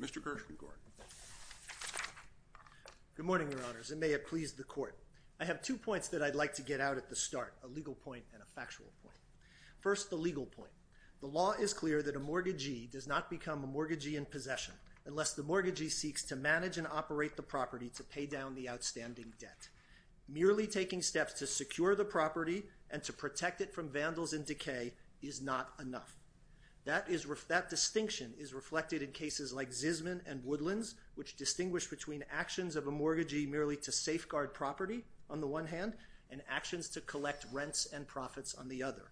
Mr. Gershwin-Gordon. Good morning, Your Honors, and may it please the Court. I have two points that I'd like to get out at the start, a legal point and a factual point. First, the legal point. The law is clear that a mortgagee does not become a mortgagee in possession unless the mortgagee is to manage and operate the property to pay down the outstanding debt. Merely taking steps to secure the property and to protect it from vandals and decay is not enough. That distinction is reflected in cases like Zisman and Woodlands, which distinguish between actions of a mortgagee merely to safeguard property, on the one hand, and actions to collect rents and profits, on the other.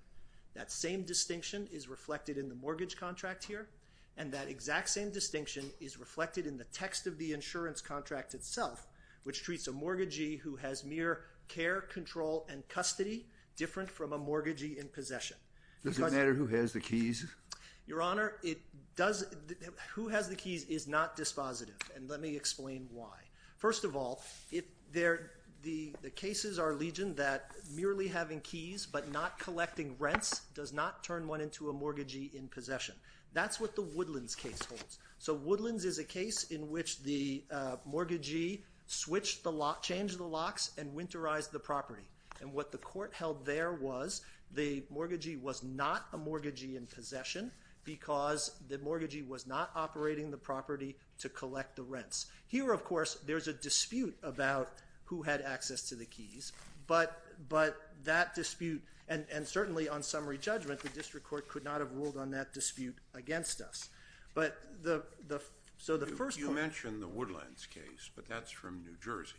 That same distinction is reflected in the mortgage contract here, and that exact same distinction is reflected in the text of the insurance contract itself, which treats a mortgagee who has mere care, control, and custody different from a mortgagee in possession. Does it matter who has the keys? Your Honor, who has the keys is not dispositive, and let me explain why. First of all, the cases are legion that merely having keys but not collecting rents does not turn one into a mortgagee in possession. That's what the Woodlands case holds. Woodlands is a case in which the mortgagee changed the locks and winterized the property. What the court held there was the mortgagee was not a mortgagee in possession because the mortgagee was not operating the property to collect the rents. Here, of course, there's a dispute about who had access to the keys, but that dispute, and certainly on summary judgment, the district court could not have ruled on that dispute against us. You mentioned the Woodlands case, but that's from New Jersey.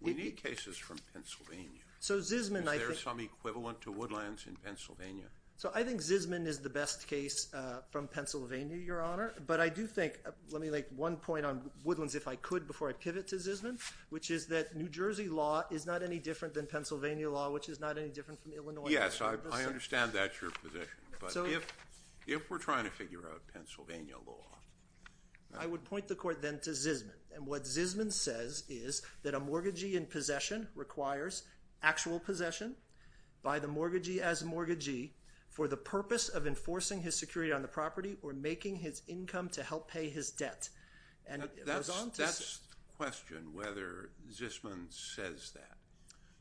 We need cases from Pennsylvania. Is there some equivalent to Woodlands in Pennsylvania? I think Zisman is the best case from Pennsylvania, Your Honor. Let me make one point on Woodlands if I could before I pivot to Zisman, which is that New Jersey law is not any different than Pennsylvania law, which is not any different from Illinois law. Yes, I understand that's your position, but if we're trying to figure out Pennsylvania law... I would point the court then to Zisman, and what Zisman says is that a mortgagee in possession requires actual possession by the mortgagee as a mortgagee for the purpose of enforcing his security on the property or making his income to help pay his debt. That's the question, whether Zisman says that.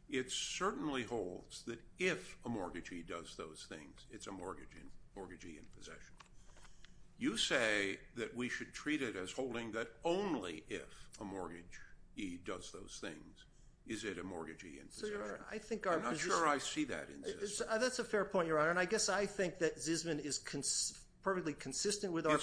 It certainly holds that if a mortgagee does those things, it's a mortgagee in possession. You say that we should treat it as holding that only if a mortgagee does those things is it a mortgagee in possession. I'm not sure I see that in Zisman. That's a fair point, Your Honor, and I guess I think that Zisman is perfectly consistent with our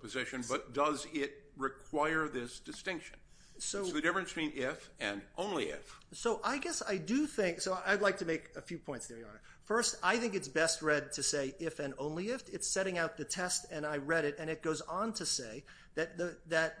position, but does it require this distinction? So the difference between if and only if. So I guess I do think, so I'd like to make a few points there, Your Honor. First, I think it's best read to say if and only if. It's setting out the test, and I read it, and it goes on to say that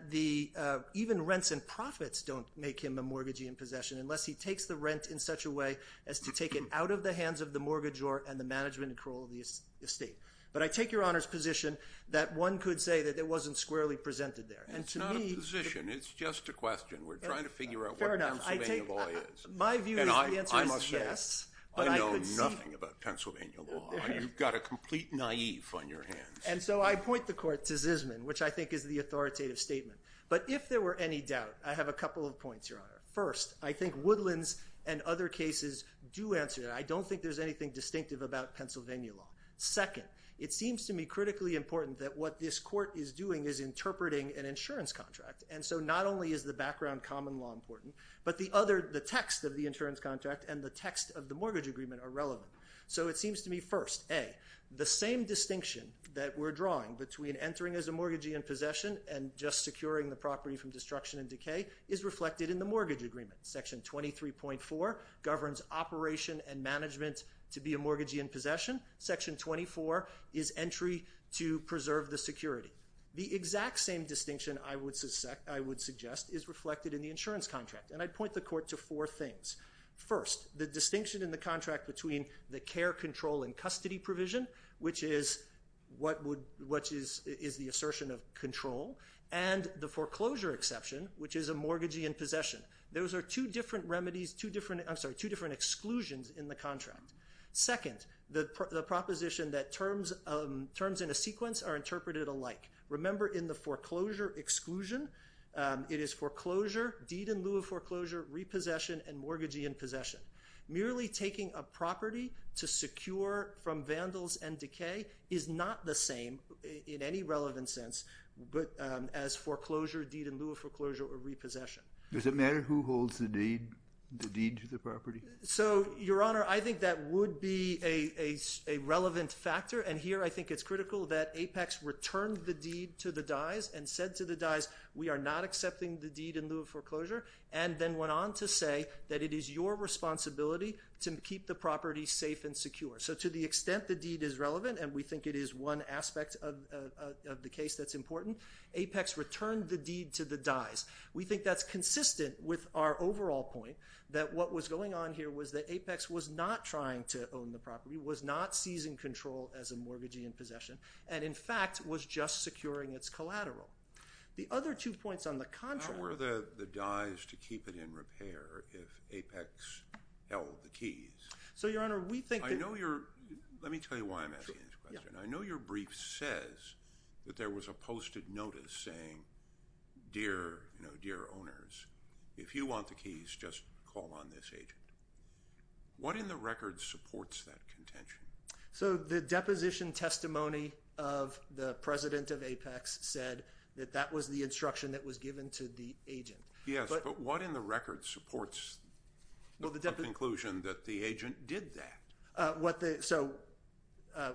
even rents and profits don't make him a mortgagee in possession unless he takes the rent in such a way as to take it out of the hands of the mortgagor and the management and control of the estate. But I take Your Honor's position that one could say that it wasn't squarely presented there. It's not a position, it's just a question. We're trying to figure out what Pennsylvania law is. My view is the answer is yes. I know nothing about Pennsylvania law. You've got a complete naive on your hands. And so I point the court to Zisman, which I think is the authoritative statement. But if there were any doubt, I have a couple of points, Your Honor. First, I think Woodlands and other cases do answer that. I don't think there's anything distinctive about Pennsylvania law. Second, it seems to me critically important that what this court is doing is interpreting an insurance contract. And so not only is the background common law important, but the other, the text of the insurance contract and the text of the mortgage agreement are relevant. So it seems to me, first, A, the same distinction that we're drawing between entering as a mortgagee in possession and just securing the property from destruction and decay is reflected in the mortgage agreement. Section 23.4 governs operation and management to be a mortgagee in possession. Section 24 is entry to preserve the security. The exact same distinction, I would suggest, is reflected in the insurance contract. And I point the court to four things. First, the distinction in the contract between the care control and custody provision, which is the assertion of control, and the foreclosure exception, which is a mortgagee in possession. Those are two different exclusions in the contract. Second, the proposition that terms in a sequence are interpreted alike. Remember, in the foreclosure exclusion, it is foreclosure, deed in lieu of foreclosure, repossession, and mortgagee in possession. Merely taking a property to secure from vandals and decay is not the same in any relevant sense as foreclosure, deed in lieu of foreclosure, or repossession. Does it matter who holds the deed to the property? So, Your Honor, I think that would be a relevant factor, and here I think it's critical that Apex returned the deed to the dyes and said to the dyes, we are not accepting the deed in lieu of foreclosure, and then went on to say that it is your responsibility to keep the property safe and secure. So to the extent the deed is relevant, and we think it is one aspect of the case that's important, Apex returned the deed to the dyes. We think that's important. What we found here was that Apex was not trying to own the property, was not seizing control as a mortgagee in possession, and in fact was just securing its collateral. The other two points on the contrary... How were the dyes to keep it in repair if Apex held the keys? So, Your Honor, we think that... Let me tell you why I'm asking this question. I know your brief says that there was a posted notice saying, dear owners, if you want the keys, just call on this agent. What in the record supports that contention? So the deposition testimony of the president of Apex said that that was the instruction that was given to the agent. Yes, but what in the record supports the conclusion that the agent did that? So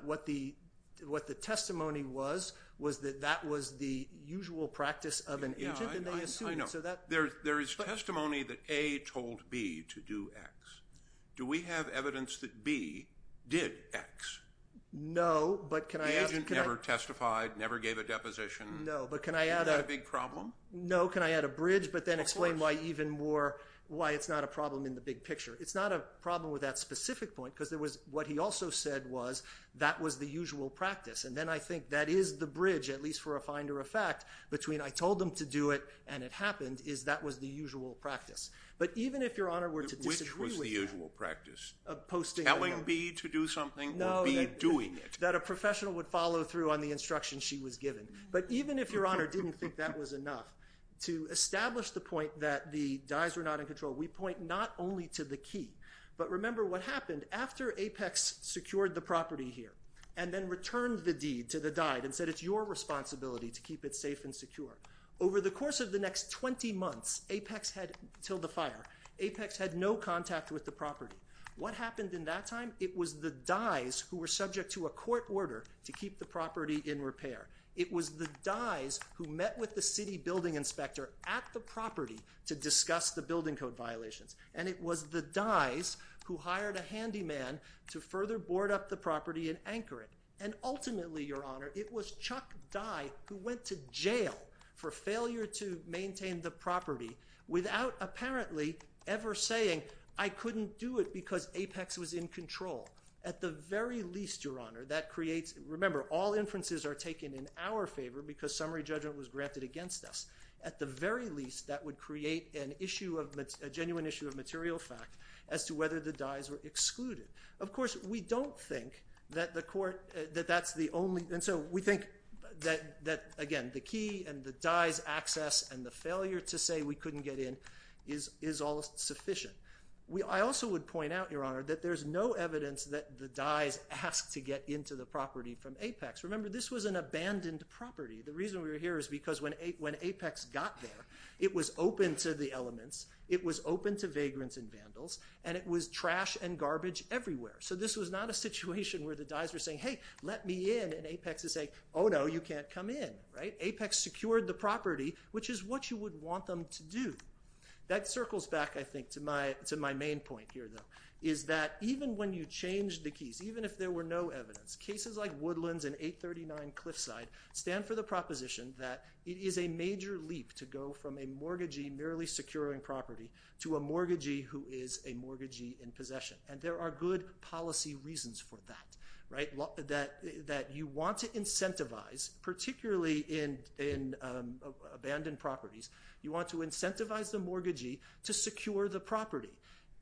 what the testimony was, was that that was the usual practice of an agent, and they assumed... I know. There is testimony that A told B to do X. Do we have evidence that B did X? No, but can I... The agent never testified, never gave a deposition. No, but can I add a... Is that a big problem? No, can I add a bridge, but then explain why it's not a problem in the big picture? It's not a problem with that specific point, because what he also said was that was the usual practice, and then I think that is the bridge, at least for a finder of fact, between I told them to do it and it happened, is that was the usual practice. But even if Your Honor were to disagree with that... Which was the usual practice? Telling B to do something or B doing it? No, that a professional would follow through on the instruction she was given. But even if Your Honor didn't think that was enough, to establish the point that the dyes were not in control, we point not only to the key, but remember what happened after Apex secured the property here and then returned the deed to the dyed and said it's your responsibility to keep it safe and secure. Over the course of the next 20 months, Apex had, until the fire, Apex had no contact with the property. What happened in that time? It was the dyes who were subject to a court order to keep the property in repair. It was the dyes who met with the city building inspector at the property to discuss the building code violations. And it was the dyes who hired a handyman to further board up the property and anchor it. And ultimately, Your Honor, it was Chuck Dye who went to jail for failure to maintain the property without apparently ever saying, I couldn't do it because Apex was in control. At the very least, Your Honor, that creates, remember, all inferences are taken in our favor because summary judgment was granted against us. At the very least, that would create an issue of, a genuine issue of material fact as to whether the dyes were excluded. Of course, we don't think that the court, that that's the only, and so we think that, again, the key and the dyes access and the failure to say we couldn't get in is all sufficient. I also would point out, Your Honor, that there's no evidence that the dyes asked to get into the property from Apex. Remember, this was an abandoned property. The reason we're here is because when Apex got there, it was open to the elements. It was open to vagrants and vandals, and it was trash and garbage everywhere. So this was not a situation where the dyes were saying, hey, let me in, and Apex is saying, oh, no, you can't come in. Apex secured the property, which is what you would want them to do. That circles back, I think, to my main point here, though, is that even when you change the keys, even if there were no evidence, cases like Woodlands and 839 Cliffside stand for the proposition that it is a major leap to go from a mortgagee merely securing property to a mortgagee who is a mortgagee in possession, and there are good policy reasons for that, right, that you want to incentivize, particularly in abandoned properties, you want to incentivize the mortgagee to secure the property.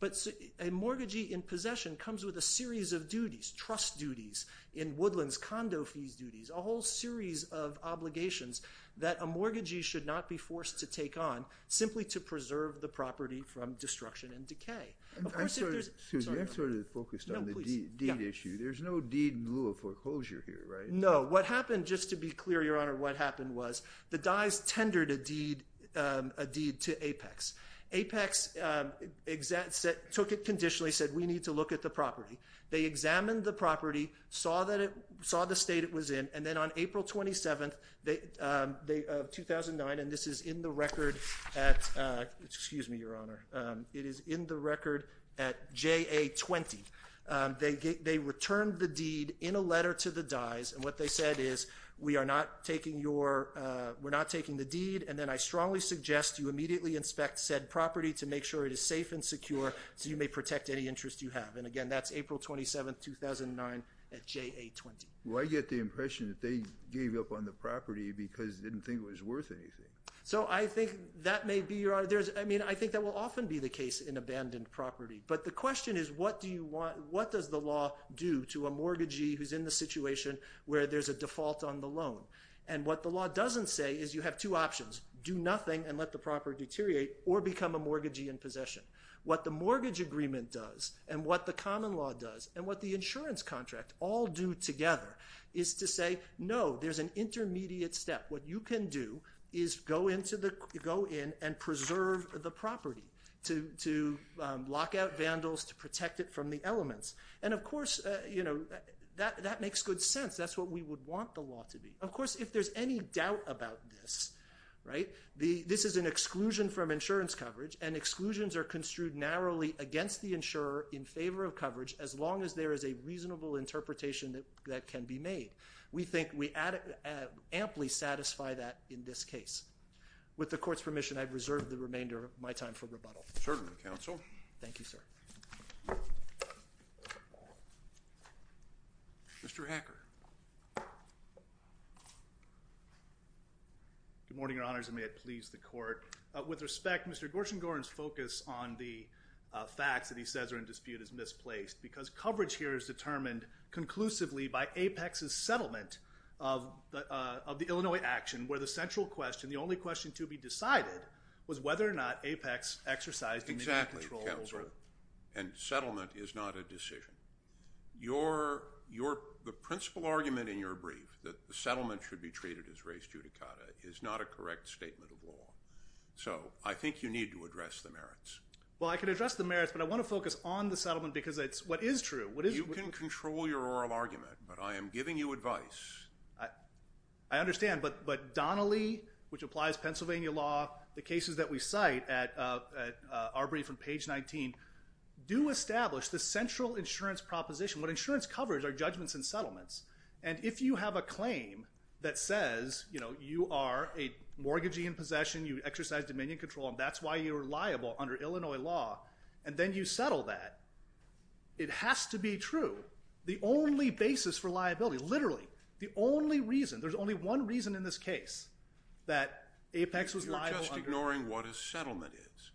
But a mortgagee in possession comes with a series of duties, trust duties, in Woodlands, condo fees duties, a whole series of obligations that a mortgagee should not be forced to take on simply to preserve the property from destruction and decay. Excuse me, I'm sort of focused on the deed issue. There's no deed in lieu of foreclosure here, right? No. What happened, just to be clear, Your Honor, what happened was the dyes tendered a deed to Apex. Apex took it conditionally, said we need to look at the property. They examined the property, saw the state it was in, and then on April 27th of 2009, and this is in the record at, excuse me, Your Honor, it is in the record at JA20. They returned the deed in a letter to the dyes, and what they said is we are not taking your, we're not taking the deed, and then I strongly suggest you immediately inspect said property to make sure it is safe and secure so you may protect any interest you have. And again, that's April 27th, 2009 at JA20. Well, I get the impression that they gave up on the property because they didn't think it was worth anything. So I think that may be, Your Honor, there's, I mean, I think that will often be the case in abandoned property, but the question is what do you want, what does the law do to a mortgagee who's in the situation where there's a default on the loan? And what the law doesn't say is you have two options, do nothing and let the property deteriorate or become a mortgagee in possession. What the mortgage agreement does and what the common law does and what the insurance contract all do together is to say no, there's an intermediate step. What you can do is go in and preserve the property to lock out vandals, to protect it from the elements. And of course, you know, that makes good sense. That's what we would want the law to be. Of course, if there's any doubt about this, right, this is an exclusion from insurance coverage and exclusions are construed narrowly against the insurer in favor of coverage as long as there is a reasonable interpretation that can be made. We think we amply satisfy that in this case. With the court's permission, I've reserved the remainder of my time for rebuttal. Certainly, counsel. Thank you, sir. Mr. Hacker. Good morning, Your Honors, and may it please the court. With respect, Mr. Gorshengorn's focus on the facts that he says are in dispute is misplaced because coverage here is determined conclusively by Apex's settlement of the Illinois action where the central question, the only question to be decided was whether or not Apex exercised immediate control over it. Exactly, counsel. And settlement is not a decision. The principal argument in your brief that the settlement should be treated as res judicata is not a correct statement of law. So I think you need to address the merits. Well, I can address the merits, but I want to focus on the settlement because it's what is true. You can control your oral argument, but I am giving you advice. I understand, but Donnelly, which applies Pennsylvania law, the cases that we cite at our brief on page 19 do establish the central insurance proposition. What insurance coverage are judgments and settlements. And if you have a claim that says, you know, you are a mortgagee in possession, you exercise dominion control, and that's why you're liable under Illinois law, and then you settle that, it has to be true. The only basis for liability, literally the only reason, there's only one reason in this case that Apex was liable under- You're just ignoring what a settlement is.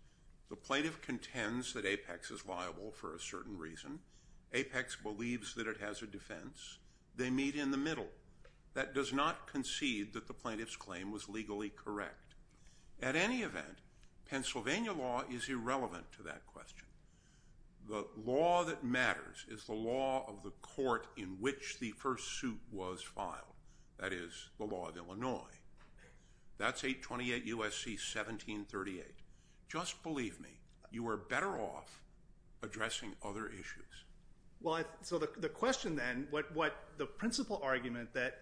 The plaintiff contends that Apex is liable for a certain reason. Apex believes that it has a defense. They meet in the middle. That does not concede that the plaintiff's claim was legally correct. At any event, Pennsylvania law is irrelevant to that question. The law that matters is the law of the court in which the first suit was filed. That is the law of Illinois. That's 828 U.S.C. 1738. Just believe me, you are better off addressing other issues. Well, so the question then, what the principal argument that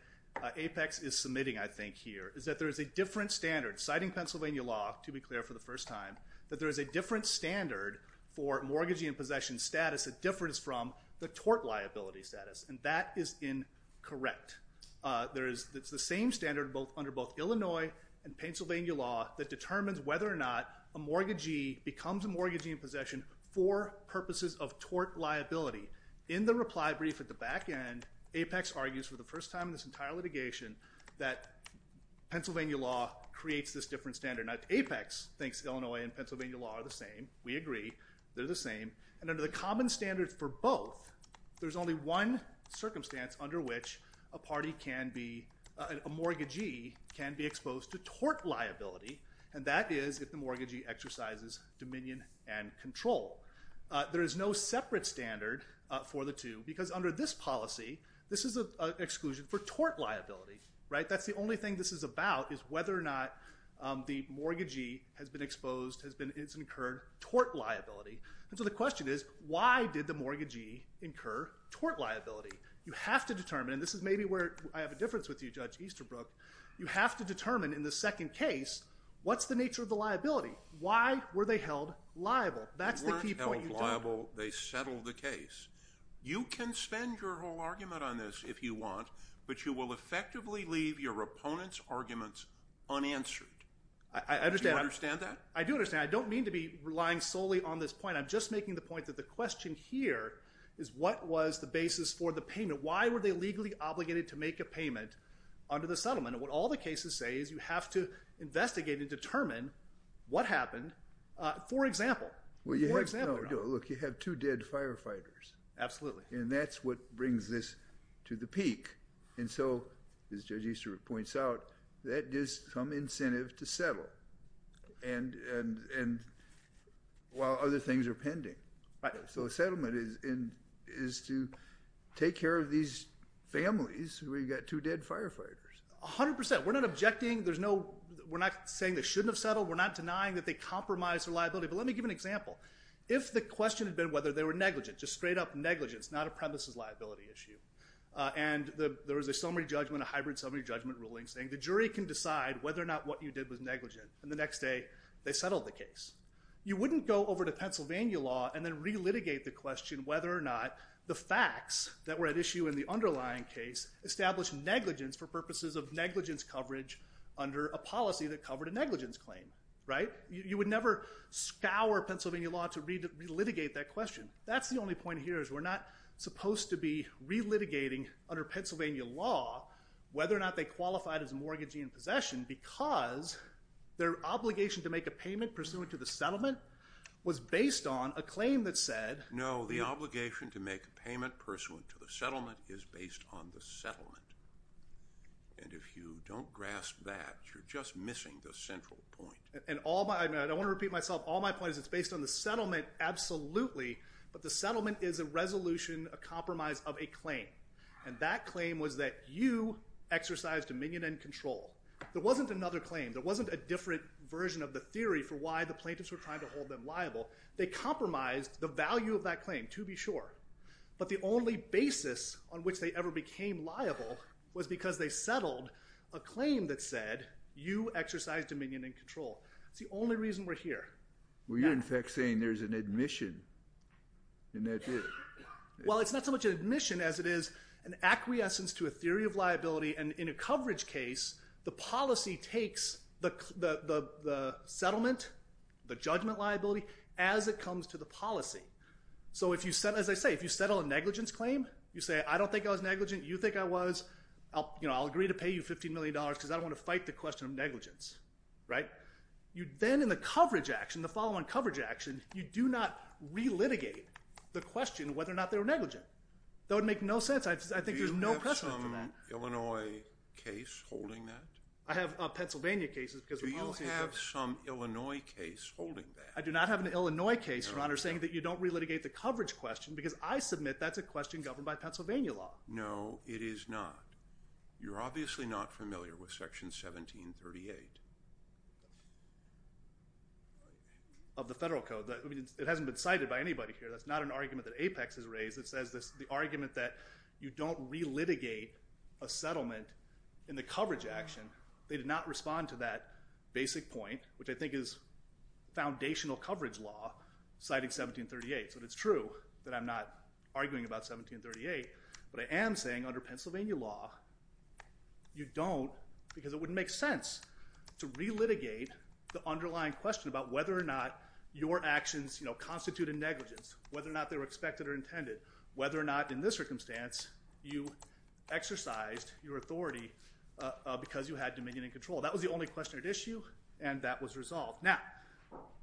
Apex is submitting, I think, here, is that there is a different standard, citing Pennsylvania law, to be clear, for the first time, that there is a different standard for mortgagee in possession status that differs from the tort liability status. And that is incorrect. It's the same standard under both Illinois and Pennsylvania law that determines whether or not a mortgagee becomes a mortgagee in possession for purposes of tort liability. In the reply brief at the back end, Apex argues for the first time in this entire litigation that Pennsylvania law creates this different standard. Now, Apex thinks Illinois and Pennsylvania law are the same. We agree. They're the same. And under the common standards for both, there's only one circumstance under which a party can be, a mortgagee can be exposed to tort liability, and that is if the mortgagee exercises dominion and control. There is no separate standard for the two because under this policy, this is an exclusion for tort liability. That's the only thing this is about is whether or not the mortgagee has been exposed, has incurred tort liability. And so the question is, why did the mortgagee incur tort liability? You have to determine, and this is maybe where I have a difference with you, Judge Easterbrook, you have to determine in the second case, what's the nature of the liability? Why were they held liable? That's the key point. They weren't held liable. They settled the case. You can spend your whole argument on this if you want, but you will effectively leave your opponent's arguments unanswered. I understand. Do you understand that? I do understand. I don't mean to be relying solely on this point. I'm just making the point that the question here is what was the basis for the payment? Why were they legally obligated to make a payment under the settlement? And what all the cases say is you have to investigate and determine what happened. For example, for example. Look, you have two dead firefighters. Absolutely. And that's what brings this to the peak. And so, as Judge Easterbrook points out, that gives some incentive to settle while other things are pending. So the settlement is to take care of these families where you've got two dead firefighters. A hundred percent. We're not objecting. We're not saying they shouldn't have settled. We're not denying that they compromised their liability. But let me give an example. If the question had been whether they were negligent, just straight up negligence, not a premises liability issue, and there was a summary judgment, a hybrid summary judgment ruling, saying the jury can decide whether or not what you did was negligent, and the next day they settled the case. You wouldn't go over to Pennsylvania law and then re-litigate the question whether or not the facts that were at issue in the underlying case established negligence for purposes of negligence coverage under a policy that covered a negligence claim. Right? You would never scour Pennsylvania law to re-litigate that question. That's the only point here is we're not supposed to be re-litigating under Pennsylvania law whether or not they qualified as mortgaging in possession because their obligation to make a payment pursuant to the settlement was based on a claim that said No, the obligation to make a payment pursuant to the settlement is based on the settlement. And if you don't grasp that, you're just missing the central point. I want to repeat myself. All my point is it's based on the settlement absolutely, but the settlement is a resolution, a compromise of a claim, and that claim was that you exercised dominion and control. There wasn't another claim. There wasn't a different version of the theory for why the plaintiffs were trying to hold them liable. They compromised the value of that claim, to be sure, but the only basis on which they ever became liable was because they settled a claim that said you exercised dominion and control. It's the only reason we're here. Well, you're, in fact, saying there's an admission, and that's it. Well, it's not so much an admission as it is an acquiescence to a theory of liability, and in a coverage case, the policy takes the settlement, the judgment liability, as it comes to the policy. So as I say, if you settle a negligence claim, you say I don't think I was negligent, you think I was, you know, I'll agree to pay you $15 million because I don't want to fight the question of negligence, right? Then in the coverage action, the follow-on coverage action, you do not relitigate the question whether or not they were negligent. That would make no sense. I think there's no precedent for that. Do you have some Illinois case holding that? I have Pennsylvania cases because the policy is different. Do you have some Illinois case holding that? I do not have an Illinois case, Your Honor, saying that you don't relitigate the coverage question because I submit that's a question governed by Pennsylvania law. No, it is not. You're obviously not familiar with Section 1738 of the Federal Code. It hasn't been cited by anybody here. That's not an argument that Apex has raised. It says the argument that you don't relitigate a settlement in the coverage action, they did not respond to that basic point, which I think is foundational coverage law, citing 1738. So it's true that I'm not arguing about 1738, but I am saying under Pennsylvania law, you don't because it wouldn't make sense to relitigate the underlying question about whether or not your actions constitute a negligence, whether or not they were expected or intended, whether or not in this circumstance, you exercised your authority because you had dominion and control. That was the only question at issue, and that was resolved. Now,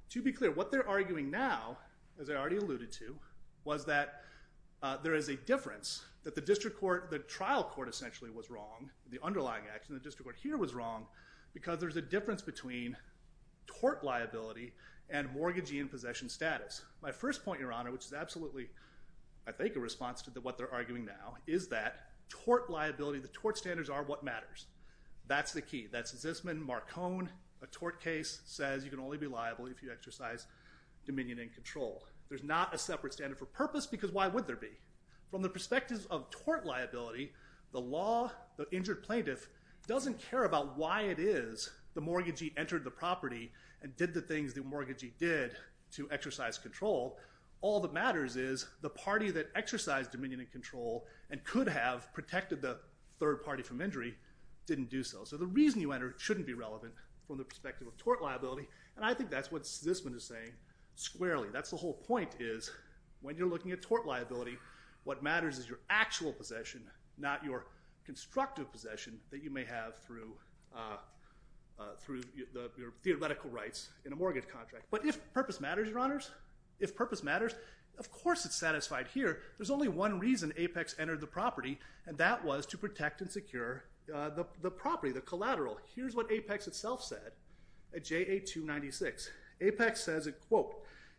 to be clear, what they're arguing now, as I already alluded to, was that there is a difference, that the trial court essentially was wrong, the underlying action, the district court here was wrong, because there's a difference between tort liability and mortgagee in possession status. My first point, Your Honor, which is absolutely, I think, a response to what they're arguing now, is that tort liability, the tort standards are what matters. That's the key. That's Zisman, Marcon, a tort case, says you can only be liable if you exercise dominion and control. There's not a separate standard for purpose, because why would there be? From the perspective of tort liability, the law, the injured plaintiff, doesn't care about why it is the mortgagee entered the property and did the things the mortgagee did to exercise control. All that matters is the party that exercised dominion and control and could have protected the third party from injury didn't do so. So the reason you enter shouldn't be relevant from the perspective of tort liability, and I think that's what Zisman is saying squarely. That's the whole point is, when you're looking at tort liability, what matters is your actual possession, not your constructive possession that you may have through your theoretical rights in a mortgage contract. But if purpose matters, Your Honors, if purpose matters, of course it's satisfied here. There's only one reason Apex entered the property, and that was to protect and secure the property, the collateral. Here's what Apex itself said at JA 296. Apex says it, quote,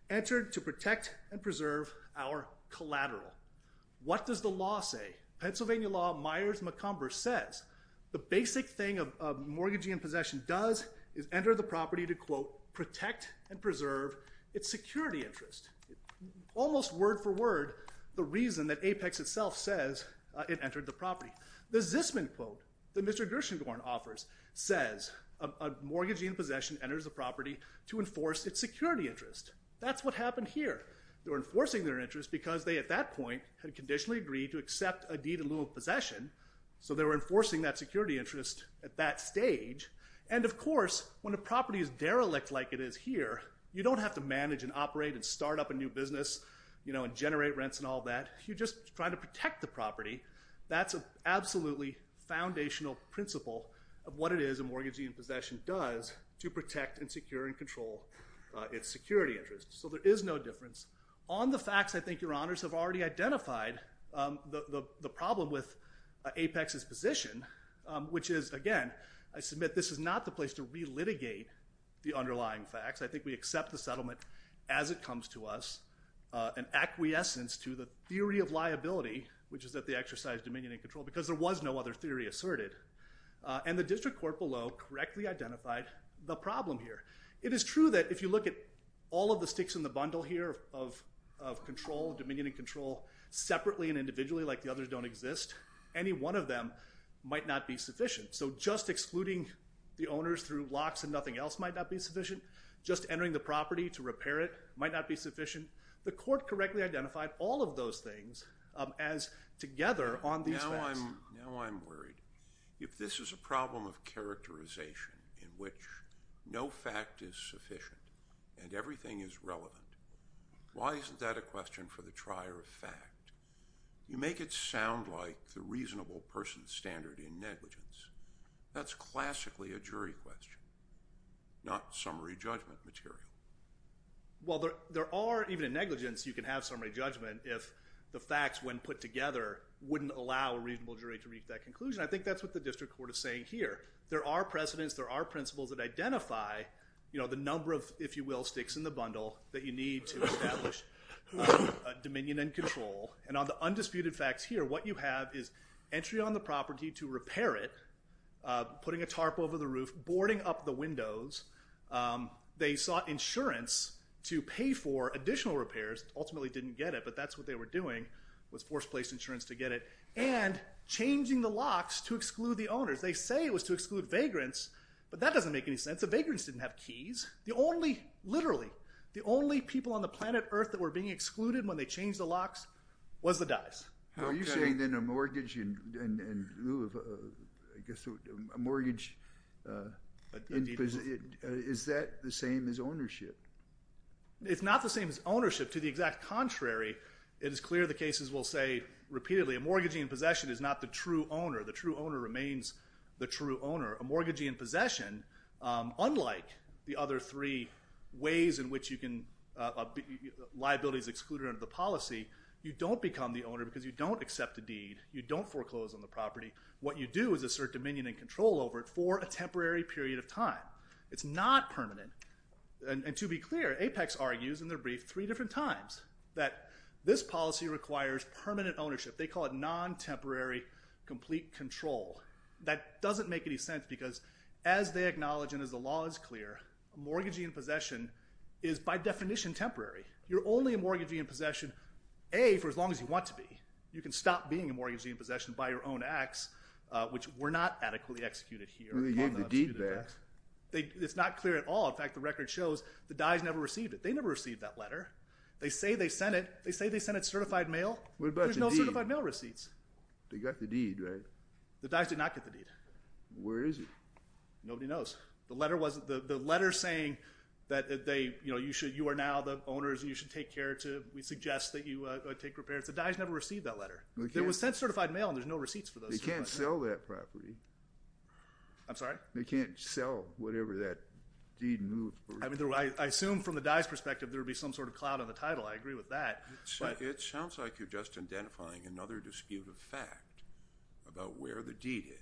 entered to protect and preserve our collateral. What does the law say? Pennsylvania law, Myers-McComber says the basic thing a mortgagee in possession does is enter the property to, quote, the reason that Apex itself says it entered the property. The Zisman quote that Mr. Gershengorn offers says a mortgagee in possession enters the property to enforce its security interest. That's what happened here. They were enforcing their interest because they, at that point, had conditionally agreed to accept a deed in lieu of possession, so they were enforcing that security interest at that stage, and, of course, when a property is derelict like it is here, you don't have to manage and operate and start up a new business and generate rents and all that. You just try to protect the property. That's an absolutely foundational principle of what it is a mortgagee in possession does to protect and secure and control its security interest, so there is no difference. On the facts, I think Your Honors have already identified the problem with Apex's position, which is, again, I submit this is not the place to relitigate the underlying facts. I think we accept the settlement as it comes to us, an acquiescence to the theory of liability, which is that they exercise dominion and control because there was no other theory asserted, and the district court below correctly identified the problem here. It is true that if you look at all of the sticks in the bundle here of control, dominion and control, separately and individually like the others don't exist, any one of them might not be sufficient, so just excluding the owners through locks and nothing else might not be sufficient. Just entering the property to repair it might not be sufficient. The court correctly identified all of those things as together on these facts. Now I'm worried. If this is a problem of characterization in which no fact is sufficient and everything is relevant, why isn't that a question for the trier of fact? You make it sound like the reasonable person's standard in negligence. That's classically a jury question, not summary judgment material. Well, there are, even in negligence, you can have summary judgment if the facts, when put together, wouldn't allow a reasonable jury to reach that conclusion. I think that's what the district court is saying here. There are precedents. There are principles that identify the number of, if you will, sticks in the bundle that you need to establish dominion and control, and on the undisputed facts here, what you have is entry on the property to repair it, putting a tarp over the roof, boarding up the windows. They sought insurance to pay for additional repairs, ultimately didn't get it, but that's what they were doing, was forced place insurance to get it, and changing the locks to exclude the owners. They say it was to exclude vagrants, but that doesn't make any sense. The vagrants didn't have keys. The only, literally, the only people on the planet Earth that were being excluded when they changed the locks was the dice. Are you saying then a mortgage in lieu of a mortgage, is that the same as ownership? It's not the same as ownership. To the exact contrary, it is clear the cases will say repeatedly, a mortgagee in possession is not the true owner. The true owner remains the true owner. A mortgagee in possession, unlike the other three ways in which liability is excluded under the policy, you don't become the owner because you don't accept a deed, you don't foreclose on the property. What you do is assert dominion and control over it for a temporary period of time. It's not permanent. And to be clear, Apex argues in their brief three different times that this policy requires permanent ownership. They call it non-temporary complete control. That doesn't make any sense because as they acknowledge and as the law is clear, a mortgagee in possession is by definition temporary. You're only a mortgagee in possession, A, for as long as you want to be. You can stop being a mortgagee in possession by your own acts, which were not adequately executed here. They gave the deed back. It's not clear at all. In fact, the record shows the dyes never received it. They never received that letter. They say they sent it. They say they sent it certified mail. There's no certified mail receipts. They got the deed, right? The dyes did not get the deed. Where is it? Nobody knows. The letter saying that you are now the owners and you should take care to, we suggest that you take repairs, the dyes never received that letter. There was sent certified mail and there's no receipts for those. They can't sell that property. I'm sorry? They can't sell whatever that deed moved. I assume from the dyes' perspective there would be some sort of cloud on the title. I agree with that. It sounds like you're just identifying another dispute of fact about where the deed is.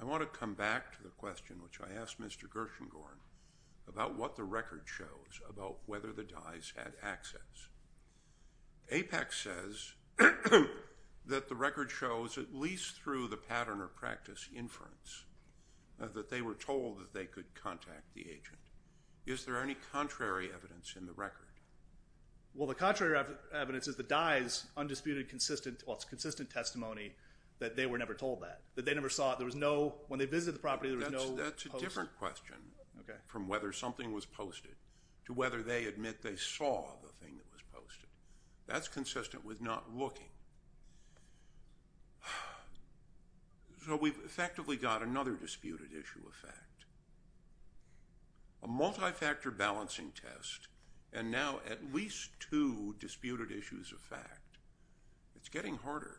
I want to come back to the question, which I asked Mr. Gershengorn, about what the record shows about whether the dyes had access. APEC says that the record shows, at least through the pattern of practice inference, that they were told that they could contact the agent. Is there any contrary evidence in the record? Well, the contrary evidence is the dyes' undisputed consistent testimony that they were never told that, that they never saw it. When they visited the property, there was no post. That's a different question from whether something was posted to whether they admit they saw the thing that was posted. That's consistent with not looking. So we've effectively got another disputed issue of fact. A multi-factor balancing test and now at least two disputed issues of fact. It's getting harder.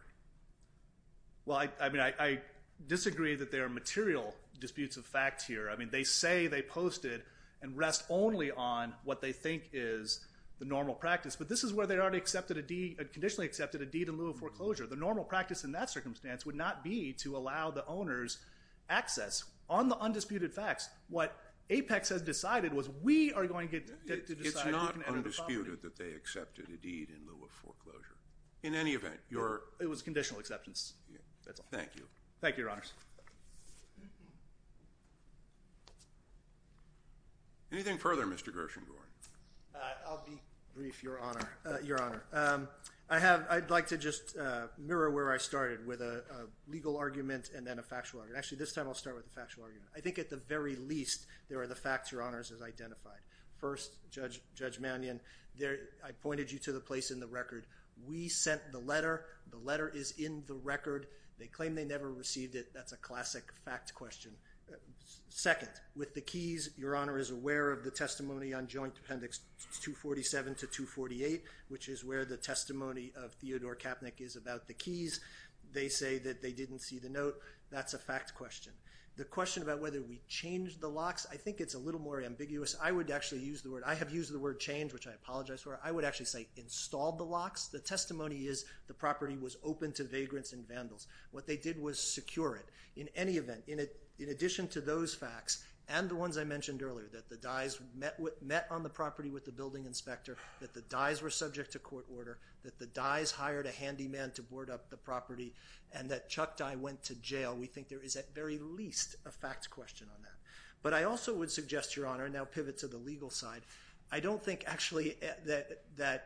Well, I disagree that there are material disputes of fact here. They say they posted and rest only on what they think is the normal practice, but this is where they already conditionally accepted a deed in lieu of foreclosure. The normal practice in that circumstance would not be to allow the owners access. On the undisputed facts, what APEX has decided was we are going to get to decide who can enter the property. It's not undisputed that they accepted a deed in lieu of foreclosure. In any event, your… It was conditional acceptance. Thank you. Thank you, Your Honors. Anything further, Mr. Gershengorn? I'll be brief, Your Honor. I'd like to just mirror where I started with a legal argument and then a factual argument. Actually, this time I'll start with a factual argument. I think at the very least, there are the facts Your Honors has identified. First, Judge Mannion, I pointed you to the place in the record. We sent the letter. The letter is in the record. They claim they never received it. That's a classic fact question. Second, with the keys, Your Honor is aware of the testimony on Joint Appendix 247 to 248, which is where the testimony of Theodore Kaepnick is about the keys. They say that they didn't see the note. That's a fact question. The question about whether we changed the locks, I think it's a little more ambiguous. I would actually use the word. I have used the word change, which I apologize for. I would actually say installed the locks. The testimony is the property was open to vagrants and vandals. What they did was secure it. In any event, in addition to those facts and the ones I mentioned earlier, that the Dyes met on the property with the building inspector, that the Dyes were subject to court order, that the Dyes hired a handyman to board up the property, and that Chuck Dye went to jail. We think there is at very least a fact question on that. But I also would suggest, Your Honor, and now pivot to the legal side, I don't think actually that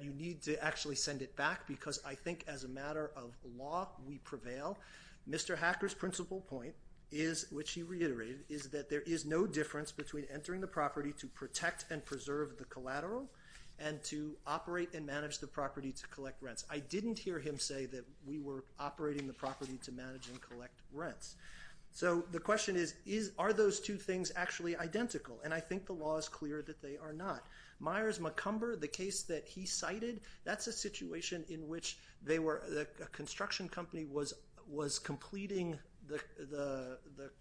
you need to actually send it back because I think as a matter of law we prevail. Mr. Hacker's principal point, which he reiterated, is that there is no difference between entering the property to protect and preserve the collateral and to operate and manage the property to collect rents. I didn't hear him say that we were operating the property to manage and collect rents. So the question is, are those two things actually identical? And I think the law is clear that they are not. Myers-McCumber, the case that he cited, that's a situation in which a construction company was completing the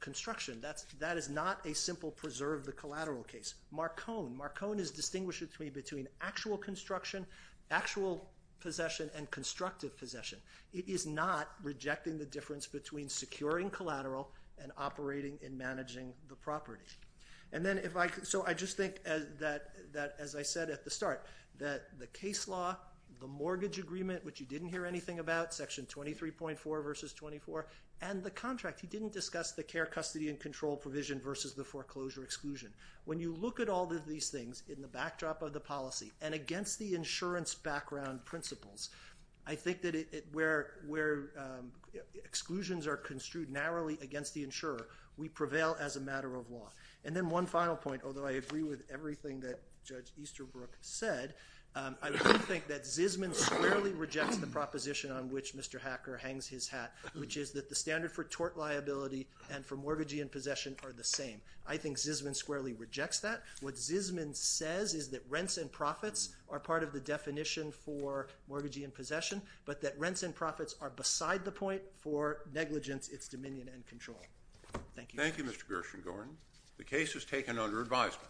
construction. That is not a simple preserve the collateral case. Marcon, Marcon is distinguishing between actual construction, actual possession, and constructive possession. It is not rejecting the difference between securing collateral and operating and managing the property. So I just think that, as I said at the start, that the case law, the mortgage agreement, which you didn't hear anything about, Section 23.4 v. 24, and the contract, he didn't discuss the care, custody, and control provision versus the foreclosure exclusion. When you look at all of these things in the backdrop of the policy and against the insurance background principles, I think that where exclusions are construed narrowly against the insurer, we prevail as a matter of law. And then one final point, although I agree with everything that Judge Easterbrook said, I do think that Zisman squarely rejects the proposition on which Mr. Hacker hangs his hat, which is that the standard for tort liability and for mortgagee and possession are the same. I think Zisman squarely rejects that. What Zisman says is that rents and profits are part of the definition for mortgagee and possession, but that rents and profits are beside the point for negligence, its dominion, and control. Thank you. Thank you, Mr. Gershengorn. The case is taken under advisement.